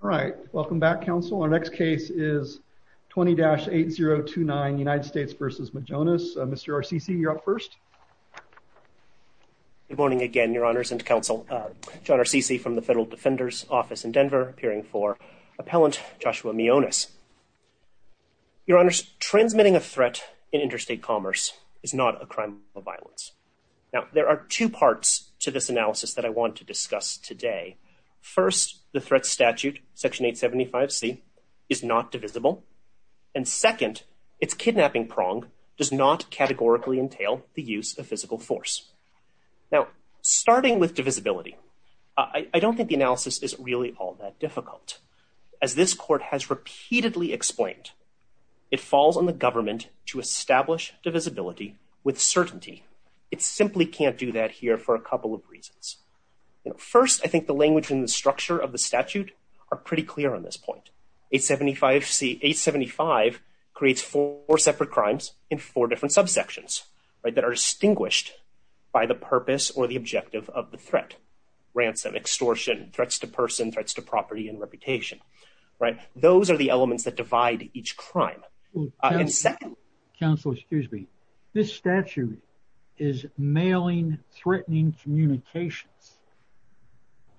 All right. Welcome back, Council. Our next case is 20-8029 United States v. Mjoness. Mr. Arsici, you're up first. Good morning again, Your Honors and Council. John Arsici from the Federal Defender's Office in Denver, appearing for Appellant Joshua Mjoness. Your Honors, transmitting a threat in interstate commerce is not a crime of violence. Now, there are two parts to this analysis that I want to discuss today. First, the threat statute, Section 875C, is not divisible. And second, its kidnapping prong does not categorically entail the use of physical force. Now, starting with divisibility, I don't think the analysis is really all that difficult. As this Court has repeatedly explained, it falls on the government to establish divisibility with certainty. It simply can't do that here for a couple of reasons. First, I think the language and the structure of the statute are pretty clear on this point. 875C, 875 creates four separate crimes in four different subsections, right, that are distinguished by the purpose or the objective of the threat. Ransom, extortion, threats to person, threats to property and reputation, right? Those are the elements that divide each crime. And second... Counsel, excuse me. This statute is mailing threatening communications.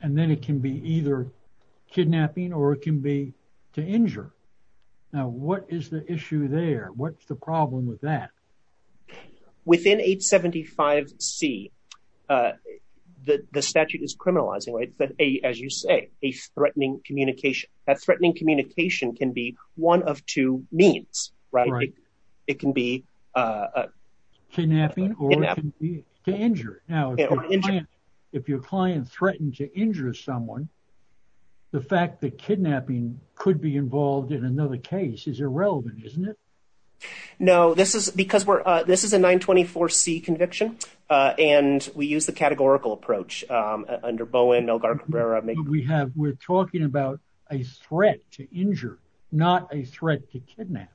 And then it can be either kidnapping or it can be to injure. Now, what is the issue there? What's the problem with that? Within 875C, the statute is criminalizing, right, as you say, a threatening communication. That threatening communication can be one of two means, right? It can be kidnapping or it can be to injure. Now, if your client threatened to injure someone, the fact that kidnapping could be involved in another case is irrelevant, isn't it? No, this is because this is a 924C conviction. And we use the categorical approach under Bowen, Elgar, Cabrera. We're talking about a threat to injure, not a threat to kidnap.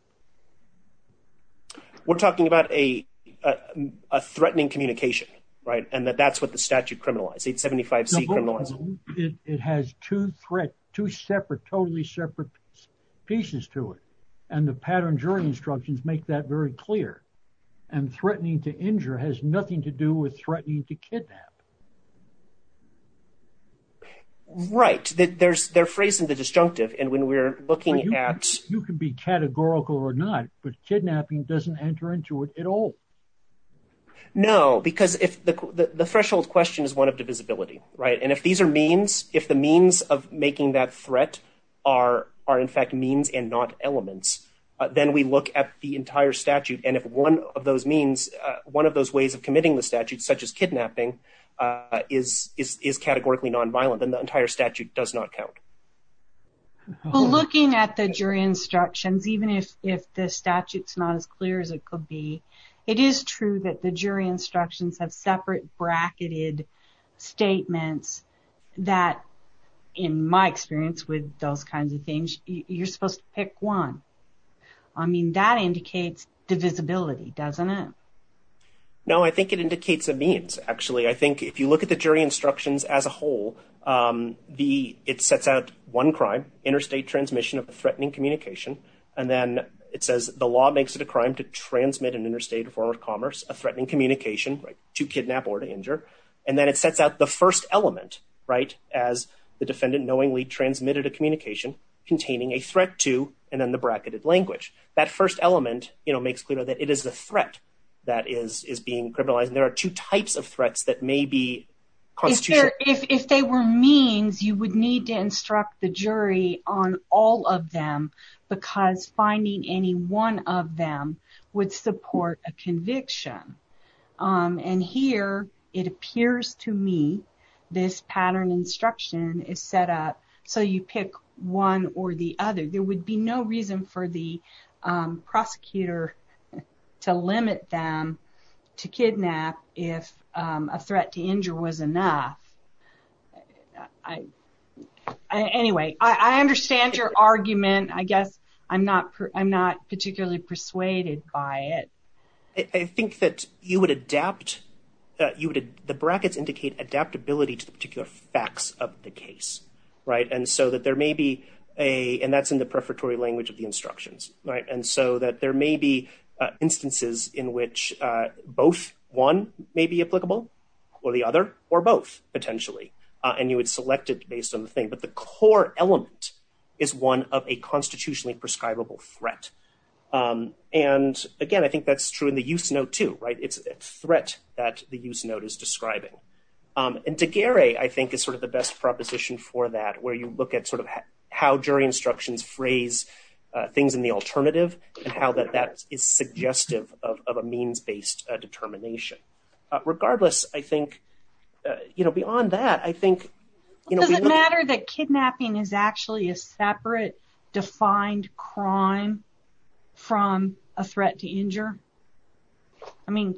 We're talking about a threatening communication, right? And that that's what the statute criminalized, 875C criminalized. It has two separate, totally separate pieces to it. And the pattern jury instructions make that very clear. And threatening to injure has nothing to do with threatening to kidnap. Right. They're phrasing the disjunctive. And when we're looking at... You can be categorical or not, but kidnapping doesn't enter into it at all. No, because the threshold question is one of divisibility, right? If the means of making that threat are in fact means and not elements, then we look at the entire statute. And if one of those means, one of those ways of committing the statute, such as kidnapping, is categorically nonviolent, then the entire statute does not count. Well, looking at the jury instructions, even if the statute's not as clear as it could be, it is true that the jury instructions have separate bracketed statements that, in my experience with those kinds of things, you're supposed to pick one. I mean, that indicates divisibility, doesn't it? No, I think it indicates a means, actually. I think if you look at the jury instructions as a whole, it sets out one crime, interstate transmission of threatening communication. And then it says the law makes it a crime to transmit an interstate form of commerce, a threatening communication, to kidnap or to injure. And then it sets out the first element, right, as the defendant knowingly transmitted a communication containing a threat to, and then the bracketed language. That first element makes clear that it is a threat that is being criminalized. And there are two types of threats that may be constitutional. If they were means, you would need to instruct the jury on all of them, because finding any one of them would support a conviction. And here, it appears to me, this pattern instruction is set up so you pick one or the other. There would be no reason for the prosecutor to limit them to kidnap if a threat to injure was enough. Anyway, I understand your argument. I guess I'm not particularly persuaded by it. I think that you would adapt, the brackets indicate adaptability to the particular facts of the case, right? And so that there may be a, and that's in the prefatory language of the instructions, right? And so that there may be instances in which both one may be applicable, or the other, or both, potentially. And you would select it based on the thing. But the core element is one of a constitutionally prescribable threat. And again, I think that's true in the use note too, right? It's a threat that the use note is describing. And Daguerre, I think, is sort of the best proposition for that, where you look at sort of how jury instructions phrase things in the alternative, and how that is suggestive of a means-based determination. Regardless, I think, you know, beyond that, I think... Does it matter that kidnapping is actually a separate, defined crime from a threat to injure? I mean,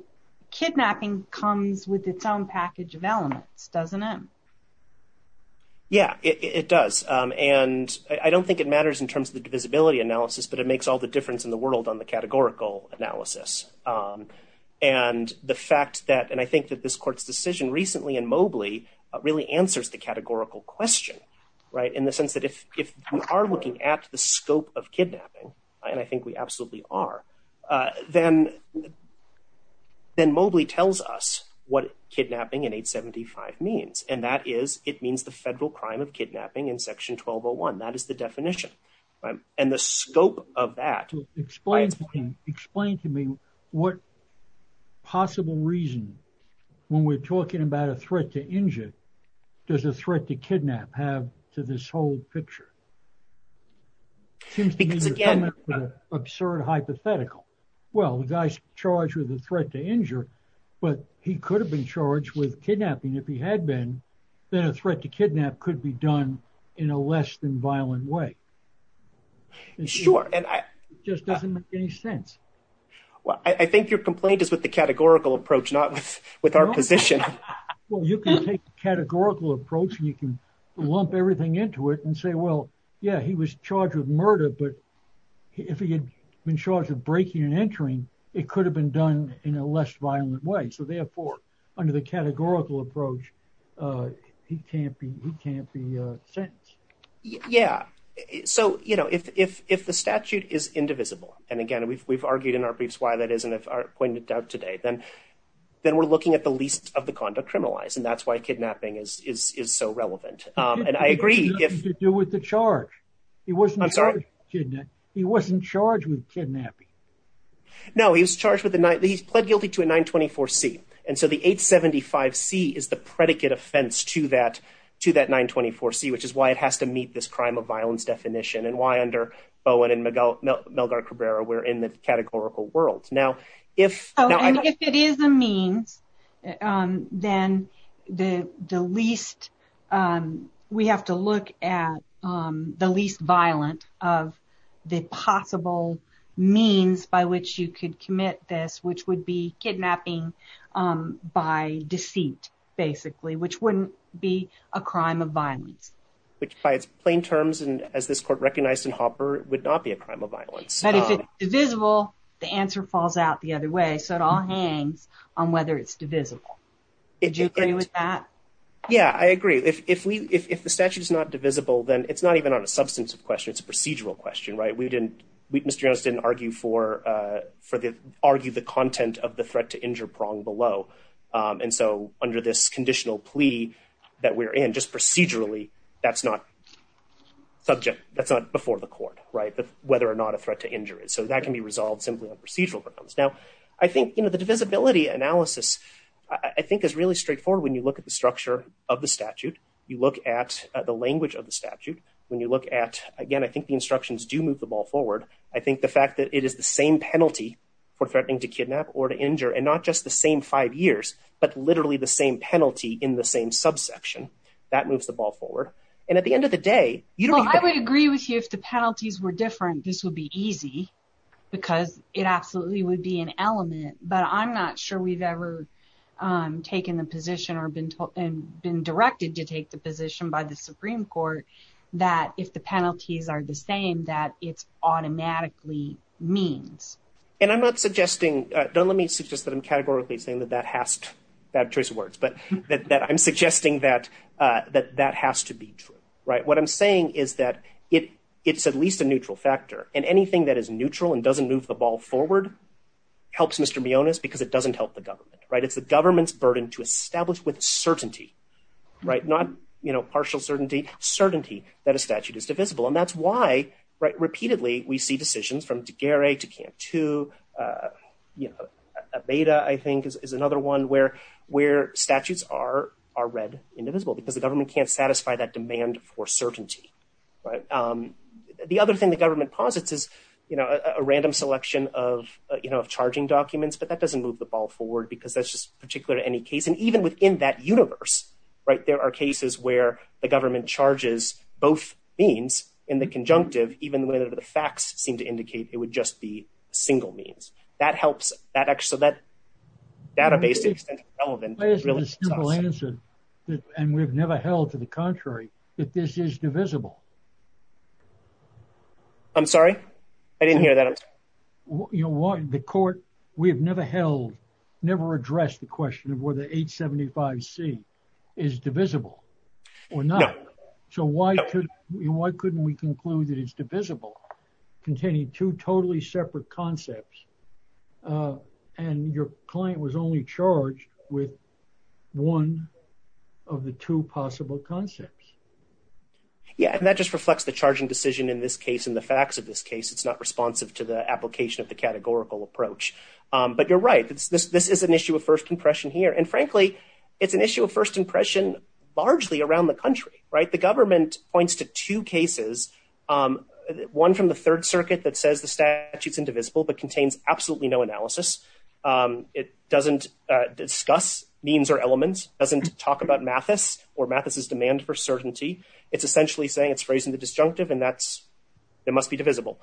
kidnapping comes with its own package of elements, doesn't it? Yeah, it does. And I don't think it matters in terms of the divisibility analysis, but it makes all the difference in the world on the categorical analysis. And the fact that, and I think that this court's decision recently in Mobley really answers the categorical question, right? In the sense that if we are looking at the scope of kidnapping, and I think we absolutely are, then Mobley tells us what kidnapping in 875 means. And that is, it means the federal crime of kidnapping in section 1201. That is the definition. And the scope of that... Explain to me what possible reason, when we're talking about a threat to injure, does a threat to kidnap have to this whole picture? Seems to me you're coming up with an absurd hypothetical. Well, the guy's charged with a threat to injure, but he could have been charged with kidnapping if he had been, then a threat to kidnap could be done in a less than violent way. Sure, and I... It just doesn't make any sense. Well, I think your complaint is with the categorical approach, not with our position. Well, you can take the categorical approach and you can lump everything into it and say, well, yeah, he was charged with murder, but if he had been charged with breaking and entering, it could have been done in a less violent way. So therefore, under the categorical approach, he can't be sentenced. Yeah. So, you know, if the statute is indivisible, and again, we've argued in our briefs why that is, and I've pointed it out today, then we're looking at the least of the conduct criminalized, and that's why kidnapping is so relevant. And I agree if... It has nothing to do with the charge. I'm sorry? He wasn't charged with kidnapping. No, he was charged with... he's pled guilty to a 924C. And so the 875C is the predicate offense to that 924C, which is why it has to meet this crime of violence definition, and why under Bowen and Melgar Cabrera, we're in the categorical world. If... And if it is a means, then the least... we have to look at the least violent of the possible means by which you could commit this, which would be kidnapping by deceit, basically, which wouldn't be a crime of violence. Which by its plain terms, and as this court recognized in Hopper, would not be a crime of violence. But if it's divisible, the answer falls out the other way. So it all hangs on whether it's divisible. Did you agree with that? Yeah, I agree. If the statute is not divisible, then it's not even on a substantive question. It's a procedural question, right? We didn't... Mr. Jones didn't argue for the... argue the content of the threat to injure prong below. And so under this conditional plea that we're in, just procedurally, that's not subject. That's not before the court, right? It's a question of whether or not a threat to injure is. So that can be resolved simply on procedural grounds. Now, I think, you know, the divisibility analysis, I think, is really straightforward. When you look at the structure of the statute, you look at the language of the statute. When you look at, again, I think the instructions do move the ball forward. I think the fact that it is the same penalty for threatening to kidnap or to injure, and not just the same five years, but literally the same penalty in the same subsection, that moves the ball forward. And at the end of the day, you don't... I agree with you if the penalties were different, this would be easy, because it absolutely would be an element. But I'm not sure we've ever taken the position or been told... and been directed to take the position by the Supreme Court that if the penalties are the same, that it's automatically means. And I'm not suggesting... don't let me suggest that I'm categorically saying that that has to... bad choice of words, but that I'm suggesting that that has to be true, right? What I'm saying is that it's at least a neutral factor, and anything that is neutral and doesn't move the ball forward helps Mr. Mionis, because it doesn't help the government, right? It's the government's burden to establish with certainty, right? Not, you know, partial certainty, certainty that a statute is divisible. And that's why, right, repeatedly we see decisions from Tagare to Cantu, you know, Aveda, I think, is another one where statutes are read indivisible, because the government can't satisfy that demand for certainty, right? The other thing the government posits is, you know, a random selection of, you know, of charging documents, but that doesn't move the ball forward, because that's just particular to any case. And even within that universe, right, there are cases where the government charges both means in the conjunctive, even whether the facts seem to indicate it would just be single means. That helps that actually... so that database is relevant. Why is the simple answer, and we've never held to the contrary, that this is divisible? I'm sorry? I didn't hear that. You know, the court, we have never held, never addressed the question of whether 875C is divisible or not. So why couldn't we conclude that it's divisible, containing two totally separate concepts, and your client was only charged with one of the two possible concepts? Yeah, and that just reflects the charging decision in this case, and the facts of this case. It's not responsive to the application of the categorical approach. But you're right, this is an issue of first impression here. And frankly, it's an issue of first impression, largely around the country, right? The government points to two cases, one from the Third Circuit that says the statute's indivisible, which means absolutely no analysis. It doesn't discuss means or elements, doesn't talk about Mathis or Mathis's demand for certainty. It's essentially saying it's phrasing the disjunctive, and that's... it must be divisible.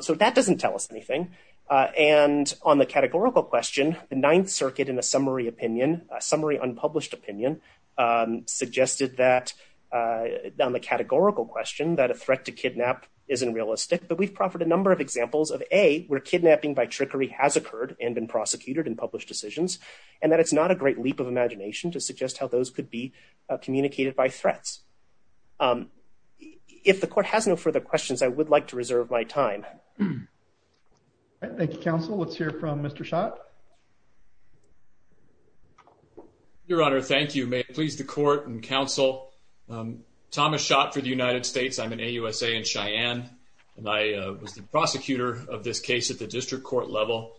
So that doesn't tell us anything. And on the categorical question, the Ninth Circuit, in a summary opinion, a summary unpublished opinion, suggested that, on the categorical question, that a threat to kidnap isn't realistic. But we've proffered a number of examples of, A, where kidnapping by trickery has occurred and been prosecuted in published decisions, and that it's not a great leap of imagination to suggest how those could be communicated by threats. If the Court has no further questions, I would like to reserve my time. Thank you, Counsel. Let's hear from Mr. Schott. Your Honor, thank you. May it please the Court and Counsel, Thomas Schott for the United States. I'm an AUSA in Cheyenne, and I was the prosecutor of this case at the district court level.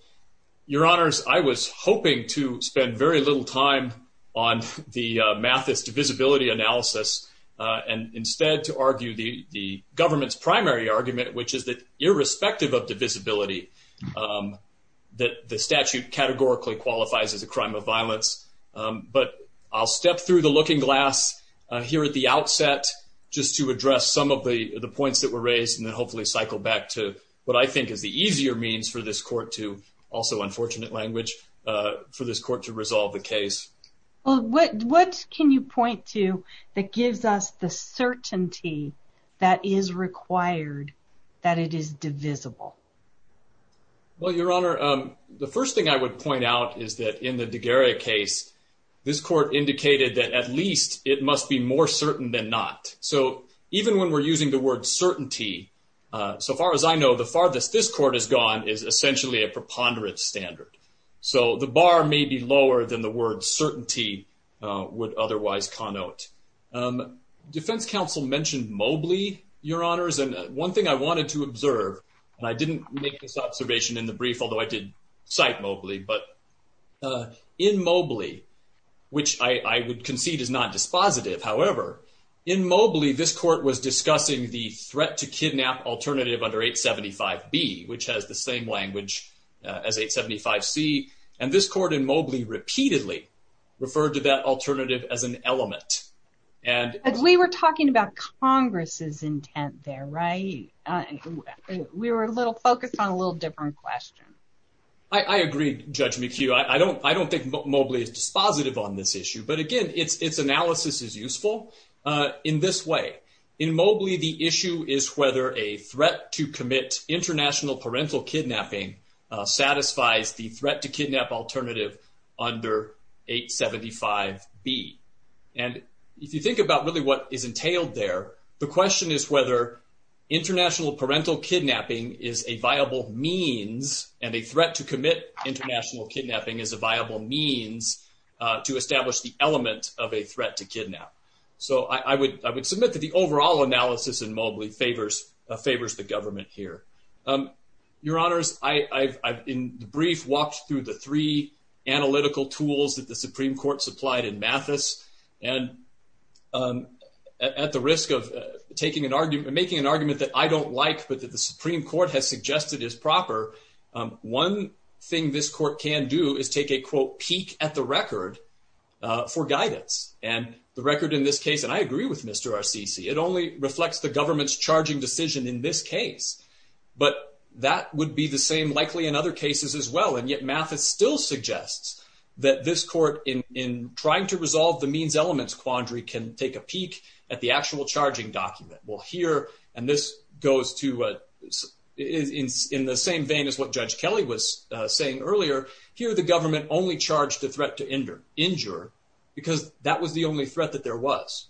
Your Honors, I was hoping to spend very little time on the Mathis divisibility analysis, and instead to argue the government's primary argument, which is that, irrespective of divisibility, that the statute categorically qualifies as a crime of violence. But I'll step through the looking glass here at the outset, just to address some of the points that were raised and then hopefully cycle back to what I think is the easier means for this Court to, also unfortunate language, for this Court to resolve the case. Well, what can you point to that gives us the certainty that is required that it is divisible? Well, Your Honor, the first thing I would point out is that in the Daguerre case, this Court indicated that at least it must be more certain than not. So, even when we're using the word certainty, so far as I know, the farthest this Court has gone is essentially a preponderance standard. So, the bar may be lower than the word certainty would otherwise connote. Defense counsel mentioned Mobley, Your Honors, and one thing I wanted to observe, and I didn't make this observation in the brief, although I did cite Mobley, but in Mobley, which I would concede is not dispositive, however, in Mobley, this Court was discussing the threat to kidnap alternative under 875B, which has the same language as 875C, and this Court in Mobley repeatedly referred to that alternative as an element. And we were talking about Congress's intent there, right? We were a little focused on a little different question. I agree, Judge McHugh. I don't think Mobley is dispositive on this issue, but again, its analysis is useful to clarify. In Mobley, the issue is whether a threat to commit international parental kidnapping satisfies the threat to kidnap alternative under 875B. And if you think about really what is entailed there, the question is whether international parental kidnapping is a viable means, and a threat to commit international kidnapping is a viable means to establish the element that the Supreme Court has suggested is proper. Overall analysis in Mobley favors the government here. Your Honors, I've in the brief walked through the three analytical tools that the Supreme Court supplied in Mathis, and at the risk of making an argument that I don't like, but that the Supreme Court has suggested is proper, one thing this Court can do is take a, quote, peek at the record for guidance. And the record in this case, and I agree with Mr. Arsici, it only reflects the government's charging decision in this case. But that would be the same likely in other cases as well, and yet Mathis still suggests that this Court, in trying to resolve the means-elements quandary, can take a peek at the actual charging document. Well, here, and this goes to, in the same vein as what Judge Kelly was saying earlier, the government only charged the threat to injure, because that was the only threat that there was.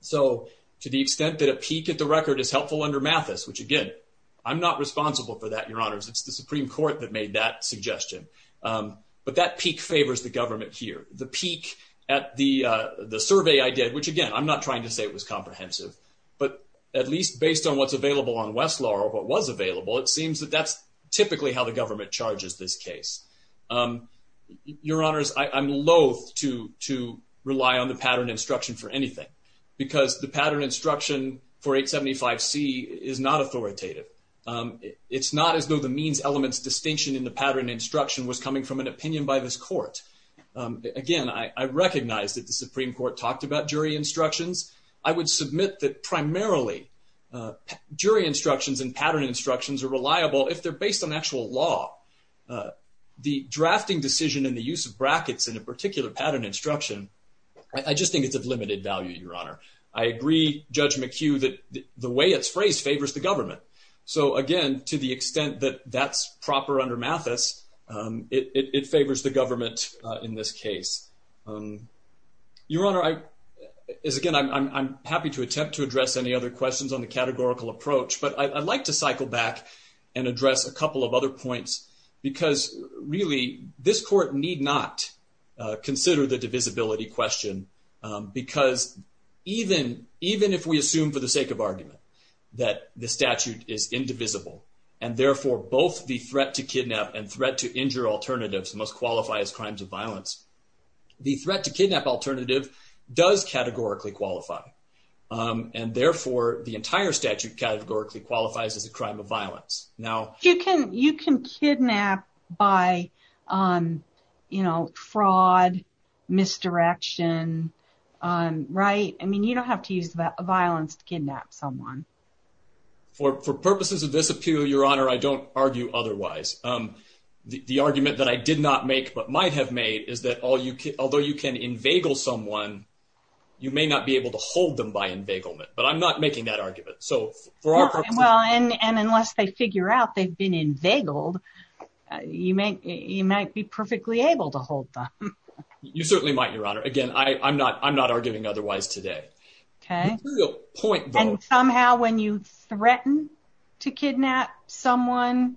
So, to the extent that a peek at the record is helpful under Mathis, which again, I'm not responsible for that, Your Honors, it's the Supreme Court that made that suggestion. But that peek favors the government here. The peek at the survey I did, which again, I'm not trying to say it was comprehensive, but at least based on what's available on Westlaw or what was available, it seems that that's typically how the government charges this case. Your Honors, I'm loath to rely on the pattern instruction for anything, because the pattern instruction for 875C is not authoritative. It's not as though the means-elements distinction in the pattern instruction was coming from an opinion by this court. Again, I recognize that the Supreme Court talked about jury instructions. I would submit that primarily jury instructions and pattern instructions are reliable if they're based on actual law. The drafting decisions and the use of brackets in a particular pattern instruction, I just think it's of limited value, Your Honor. I agree, Judge McHugh, that the way it's phrased favors the government. So again, to the extent that that's proper under Mathis, it favors the government in this case. Your Honor, as again, I'm happy to attempt to address any other questions on the categorical approach, but I'd like to cycle back and address a couple of other points, because really, this court need not consider the divisibility question because even if we assume for the sake of argument that the statute is indivisible and therefore both the threat to kidnap and threat to injure alternatives must qualify as crimes of violence, the threat to kidnap alternative does categorically qualify and therefore the entire statute categorically qualifies as a crime of violence. You can kidnap by, you know, fraud, misdirection, right? I mean, you don't have to use violence to kidnap someone. For purposes of this appeal, Your Honor, I don't argue otherwise. The argument that I did not make but might have made is that although you can inveigle someone, you may not be able to hold them by inveiglement, but I'm not making that argument. Well, and unless they figure out they've been inveigled, you may, you might be perfectly able to hold them. You certainly might, Your Honor. Again, I'm not, I'm not arguing otherwise today. Okay. And somehow when you threaten to kidnap someone,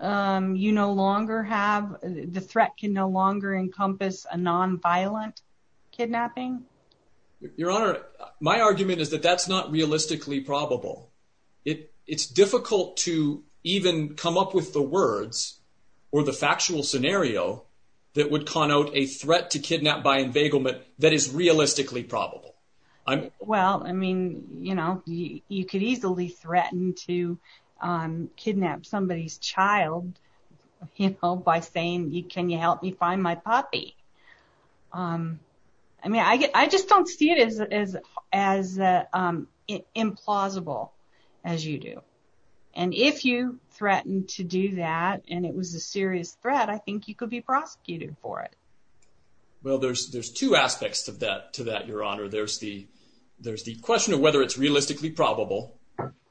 you no longer have, the threat can no longer encompass a non-violent kidnapping? Your Honor, my argument is that that's not realistically probable. It's difficult to even come up with the words or the factual scenario that would connote a threat to kidnap by inveiglement that is realistically probable. Well, I mean, you know, you could easily threaten to kidnap somebody's child, you know, by saying, can you help me find my puppy? I mean, I just don't see it as implausible as you do. And if you threaten to do that and it was a serious threat, I think you could be prosecuted for it. Well, there's, there's two aspects to that, to that, Your Honor. There's the, there's the question of whether it's realistically probable.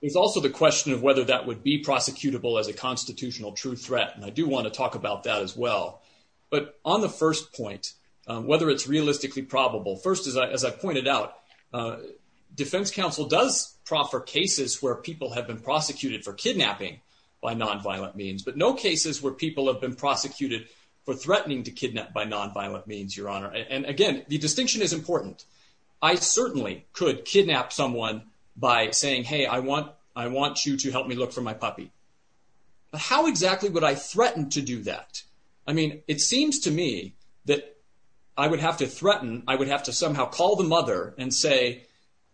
There's also the question of whether that would be prosecutable as a constitutional true threat. And I do want to talk about that as well. But on the first point, whether it's realistically probable. First, as I pointed out, defense counsel does proffer cases where people have been prosecuted for kidnapping by non-violent means, but no cases where people have been prosecuted for threatening to kidnap by non-violent means, Your Honor. And again, the distinction is important. I certainly could kidnap someone by saying, hey, I want, I want you to help me look for my puppy. But how exactly would I threaten to do that? I mean, it seems to me that I would have to threaten, I would have to somehow call the mother and say,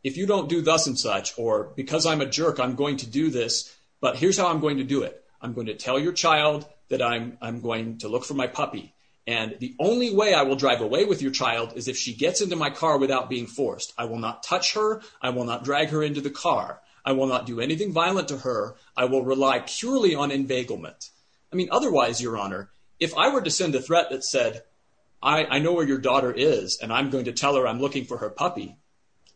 if you don't do thus and such, or because I'm a jerk, I'm going to do this, but here's how I'm going to do it. I'm going to tell your child that I'm, I'm going to look for my puppy. And the only way I will drive away with your child is if she gets into my car without being forced. I will not touch her. I will not drag her into the car. I will not do anything violent to her. I will rely purely on inveiglement. I mean, otherwise, Your Honor, if I were to send a threat that said, I know where your daughter is, and I'm going to tell her I'm looking for her puppy,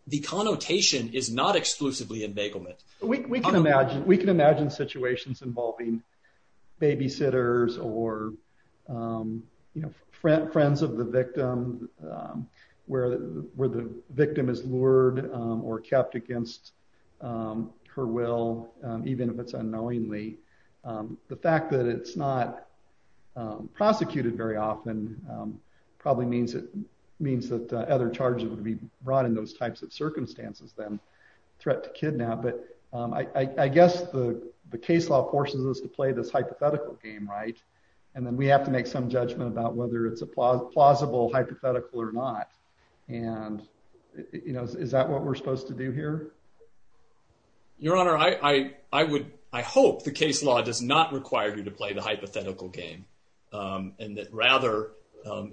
the connotation is not exclusively inveiglement. We can imagine, we can imagine situations involving babysitters or, you know, friends of the victim where, where the victim is lured or kept against her will, even if it's unknowingly. The fact that it's not prosecuted very often probably means it means that other charges would be brought in those types of circumstances, then threat to kidnap. But I guess the, the case law forces us to play this hypothetical game, right? And then we have to make some judgment about whether it's a plausible hypothetical or not. And, you know, is that what we're supposed to do here? Your Honor, I, I would, I hope the case law does not require you to play the hypothetical game and that rather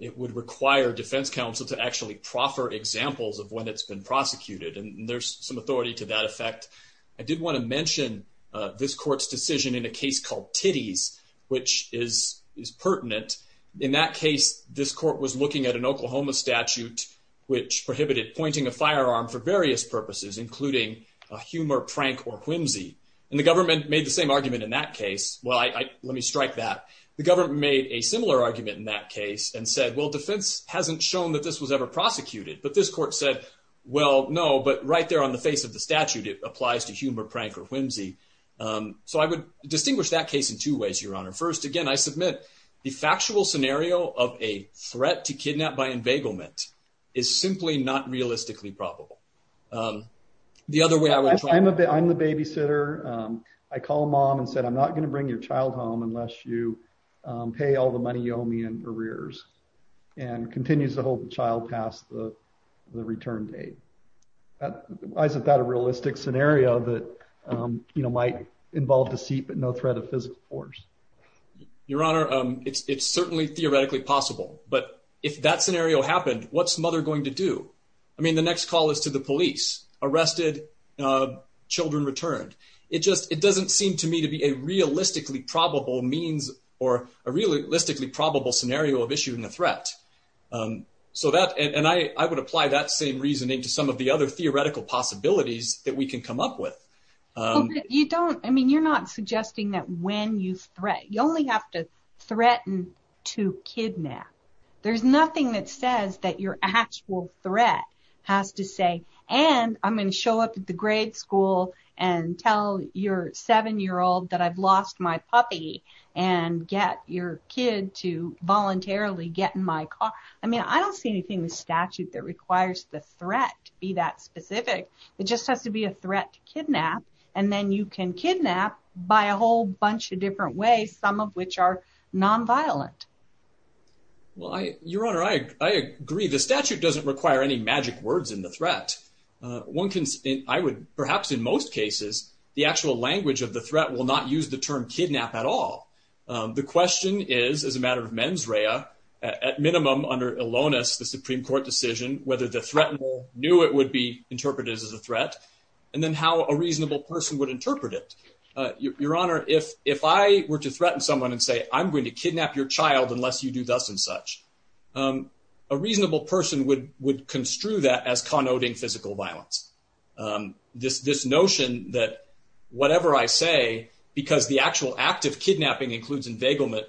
it would require defense counsel to actually proffer examples of when it's been prosecuted. And there's some authority to that effect. I did want to mention this court's decision in a case called Titties, which is, is pertinent. In that case, this court was looking at an Oklahoma statute, which prohibited pointing a firearm for various purposes, including a humor, prank or whimsy. And the government made the same argument in that case. Well, I, let me strike that. The government made a similar argument in that case and said, well, defense hasn't shown that this was ever prosecuted. But this court said, well, no, but right there on the face of the statute, it applies to humor, prank or whimsy. So I would distinguish that case in two ways, Your Honor. First, again, I submit the factual scenario of a threat to kidnap by embegglement is simply not realistically probable. The other way, I'm a bit, I'm the babysitter. I call mom and said, I'm not going to bring your child home unless you pay all the money you owe me in arrears and continues to hold the child past the return date. Why isn't that a realistic scenario that, you know, might involve deceit, but no threat of physical force? Your Honor, it's certainly theoretically possible. But if that scenario happened, what's mother going to do? I mean, the next call is to the police. Arrested, children returned. It just, it doesn't seem to me to be a realistically probable means or a realistically probable scenario of issuing a threat. So that, and I would apply that same reasoning to some of the other theoretical possibilities that we can come up with. You don't, I mean, you're not suggesting that when you threat, you only have to threaten to kidnap. There's nothing that says that your actual threat has to say, and I'm going to show up at the grade school and tell your seven-year-old that I've lost my puppy and get your kid to voluntarily get in my car. I mean, I don't see anything in the statute that requires the threat to be that specific. It just has to be a threat to kidnap, and then you can kidnap by a whole bunch of different ways, some of which are nonviolent. Well, Your Honor, I agree. The statute doesn't require any magic words in the threat. One can, I would, perhaps in most cases, the actual language of the threat will not use the term kidnap at all. The question is, as a matter of mens rea, at minimum, under Ilonis, the Supreme Court decision, whether the threator knew it would be used as a threat, and then how a reasonable person would interpret it. Your Honor, if I were to threaten someone and say, I'm going to kidnap your child unless you do thus and such, a reasonable person would construe that as connoting physical violence. This notion that whatever I say, because the actual act of kidnapping includes enveiglement,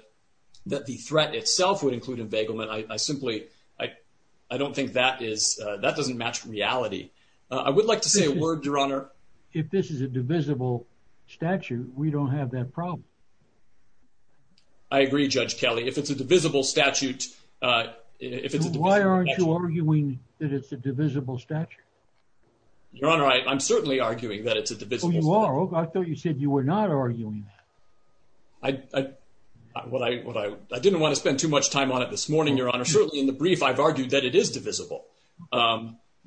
that the threat itself would include enveiglement, I simply, I don't think that is, that doesn't match reality. I would like to say a word, Your Honor. If this is a divisible statute, we don't have that problem. I agree, Judge Kelly. If it's a divisible statute, if it's a divisible statute. Why aren't you arguing that it's a divisible statute? Your Honor, I'm certainly arguing that it's a divisible statute. Oh, you are? I thought you said you were not arguing that. I, I, what I, what I, I didn't want to spend too much time on it this morning, Your Honor. Certainly in the brief, I've argued that it is divisible.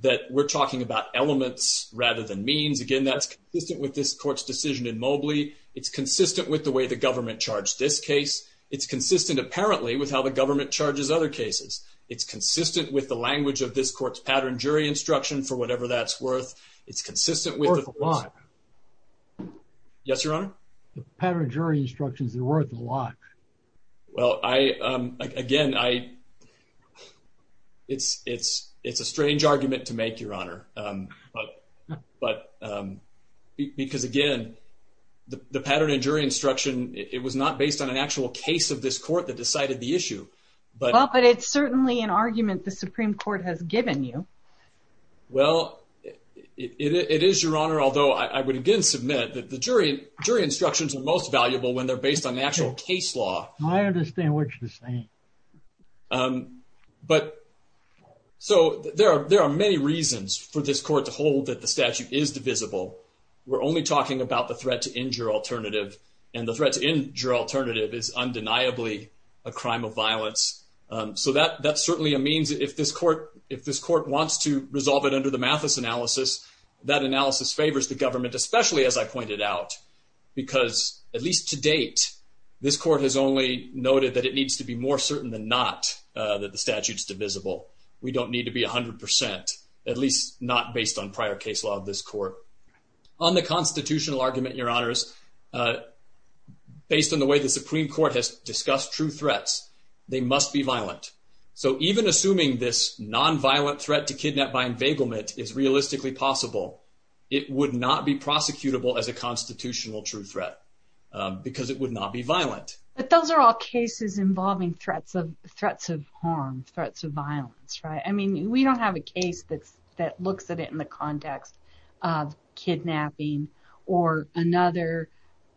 That we're talking about elements rather than means. Again, that's consistent with this court's decision in Mobley. It's consistent with the way the government charged this case. It's consistent, apparently, with how the government charges other cases. It's consistent with the language of this court's pattern jury instruction, for whatever that's worth. It's consistent with... Worth a lot. Yes, Your Honor? The pattern jury instructions, they're worth a lot. Well, I, again, I, it's, it's, it's a strange argument to make, Your Honor. But, because again, the pattern in jury instruction, it was not based on an actual case of this court that decided the issue. Well, but it's certainly an argument the Supreme Court has given you. Well, it is, Your Honor, although I would again submit that the jury, jury instructions are most valuable when they're based on actual case law. I understand what you're saying. But, so there are, there are many reasons for this court to hold that the statute is divisible. We're only talking about the threat to injure alternative, and the threat to injure alternative is undeniably a crime of violence. So that, that's certainly a means, if this court, if this court wants to resolve it under the Mathis analysis, that analysis favors the government, especially as I pointed out, because at least to date, this court has only noted that it needs to be more certain than not that the statute's divisible. We don't need to be 100%, at least not based on prior case law of this court. On the constitutional argument, Your Honors, based on the way the Supreme Court has discussed true threats, they must be violent. So even assuming this non-violent threat to kidnap by enveiglement is realistically possible, it would not be prosecutable as a constitutional true threat, because it would not be violent. But those are all cases involving threats of harm, threats of violence, right? I mean, we don't have a case that looks at it in the context of kidnapping or another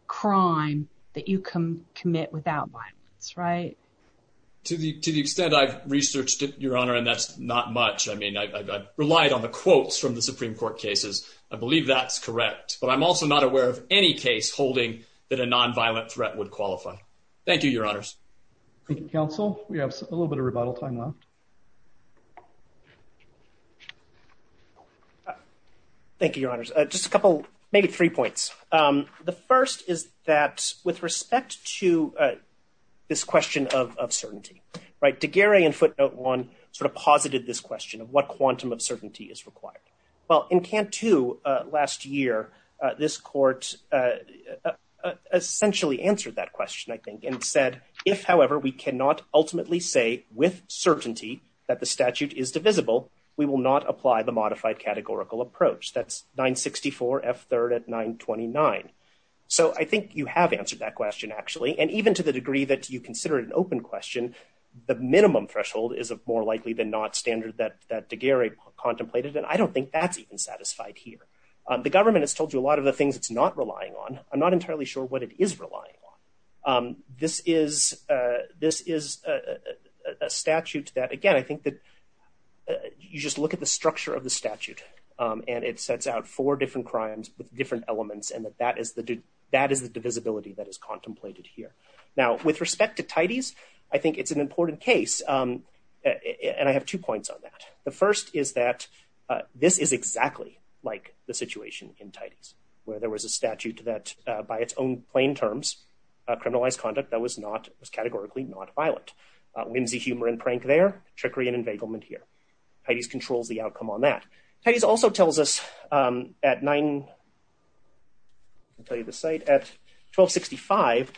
crime that you can commit without violence, right? To the extent I've researched it, Your Honor, and that's not much. I mean, I've relied on the quotes from the Supreme Court cases. I believe that's correct. But I'm also not aware of any case holding that a non-violent threat would qualify. Thank you, Your Honors. Thank you, Counsel. We have a little bit of rebuttal time left. Thank you, Your Honors. Just a couple, maybe three points. The first is that with respect to this question of certainty, Daguerre and Footnote 1 sort of posited this question of what quantum of certainty is required. Well, in Cantu last year, this court essentially answered that question, I think, and said, if, however, we cannot ultimately say with certainty that the statute is divisible, we will not apply the modified categorical approach. That's 964 F3rd at 929. So I think you have answered that question, actually, and even to the degree that you consider it an open question, the minimum threshold is more likely than not standard that Daguerre contemplated, and I don't think that's even satisfied here. The government has told you a lot of the things it's not relying on. I'm not entirely sure what it is relying on. This is a statute that, again, I think that you just look at the structure of the statute, and it sets out four different crimes with different elements, and that is the divisibility that is contemplated here. Now, with respect to Tides, I think it's an important case, and I have two points on that. The first is that this is exactly like the situation in Tides, where there was a statute that, by its own plain terms, criminalized conduct that was not, was categorically not violent. Whimsy, humor, and prank there, trickery, and enveiglement here. Tides controls the outcome on that. Tides also tells us at 9... I'll tell you the site. At 1265,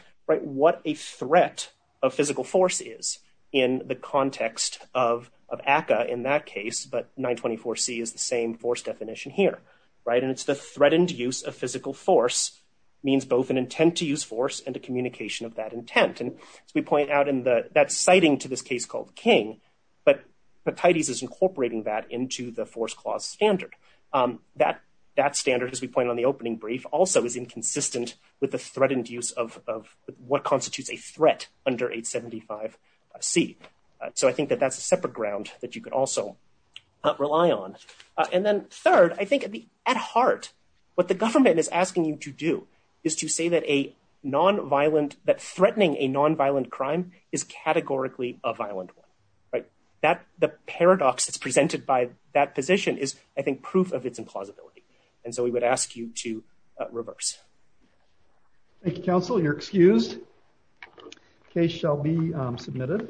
what a threat of physical force is in the context of ACCA in that case, but 924C is the same force definition here, and it's the threatened use of physical force means both an intent to use force and a communication of that intent, and as we point out, that's citing to this case called King, but Tides is incorporating that into the force clause standard. That standard, as we pointed out in the opening brief, also is inconsistent with the threat induced of what constitutes a threat under 875C, so I think that that's a separate ground that you could also rely on, and then third, I think at heart, what the government is asking you to do is to say that a nonviolent... that threatening a nonviolent crime is categorically a violent one, right? The paradox that's presented by that position is, I think, proof of its implausibility, and so we would ask you to reverse. Thank you, counsel. You're excused. Case shall be submitted.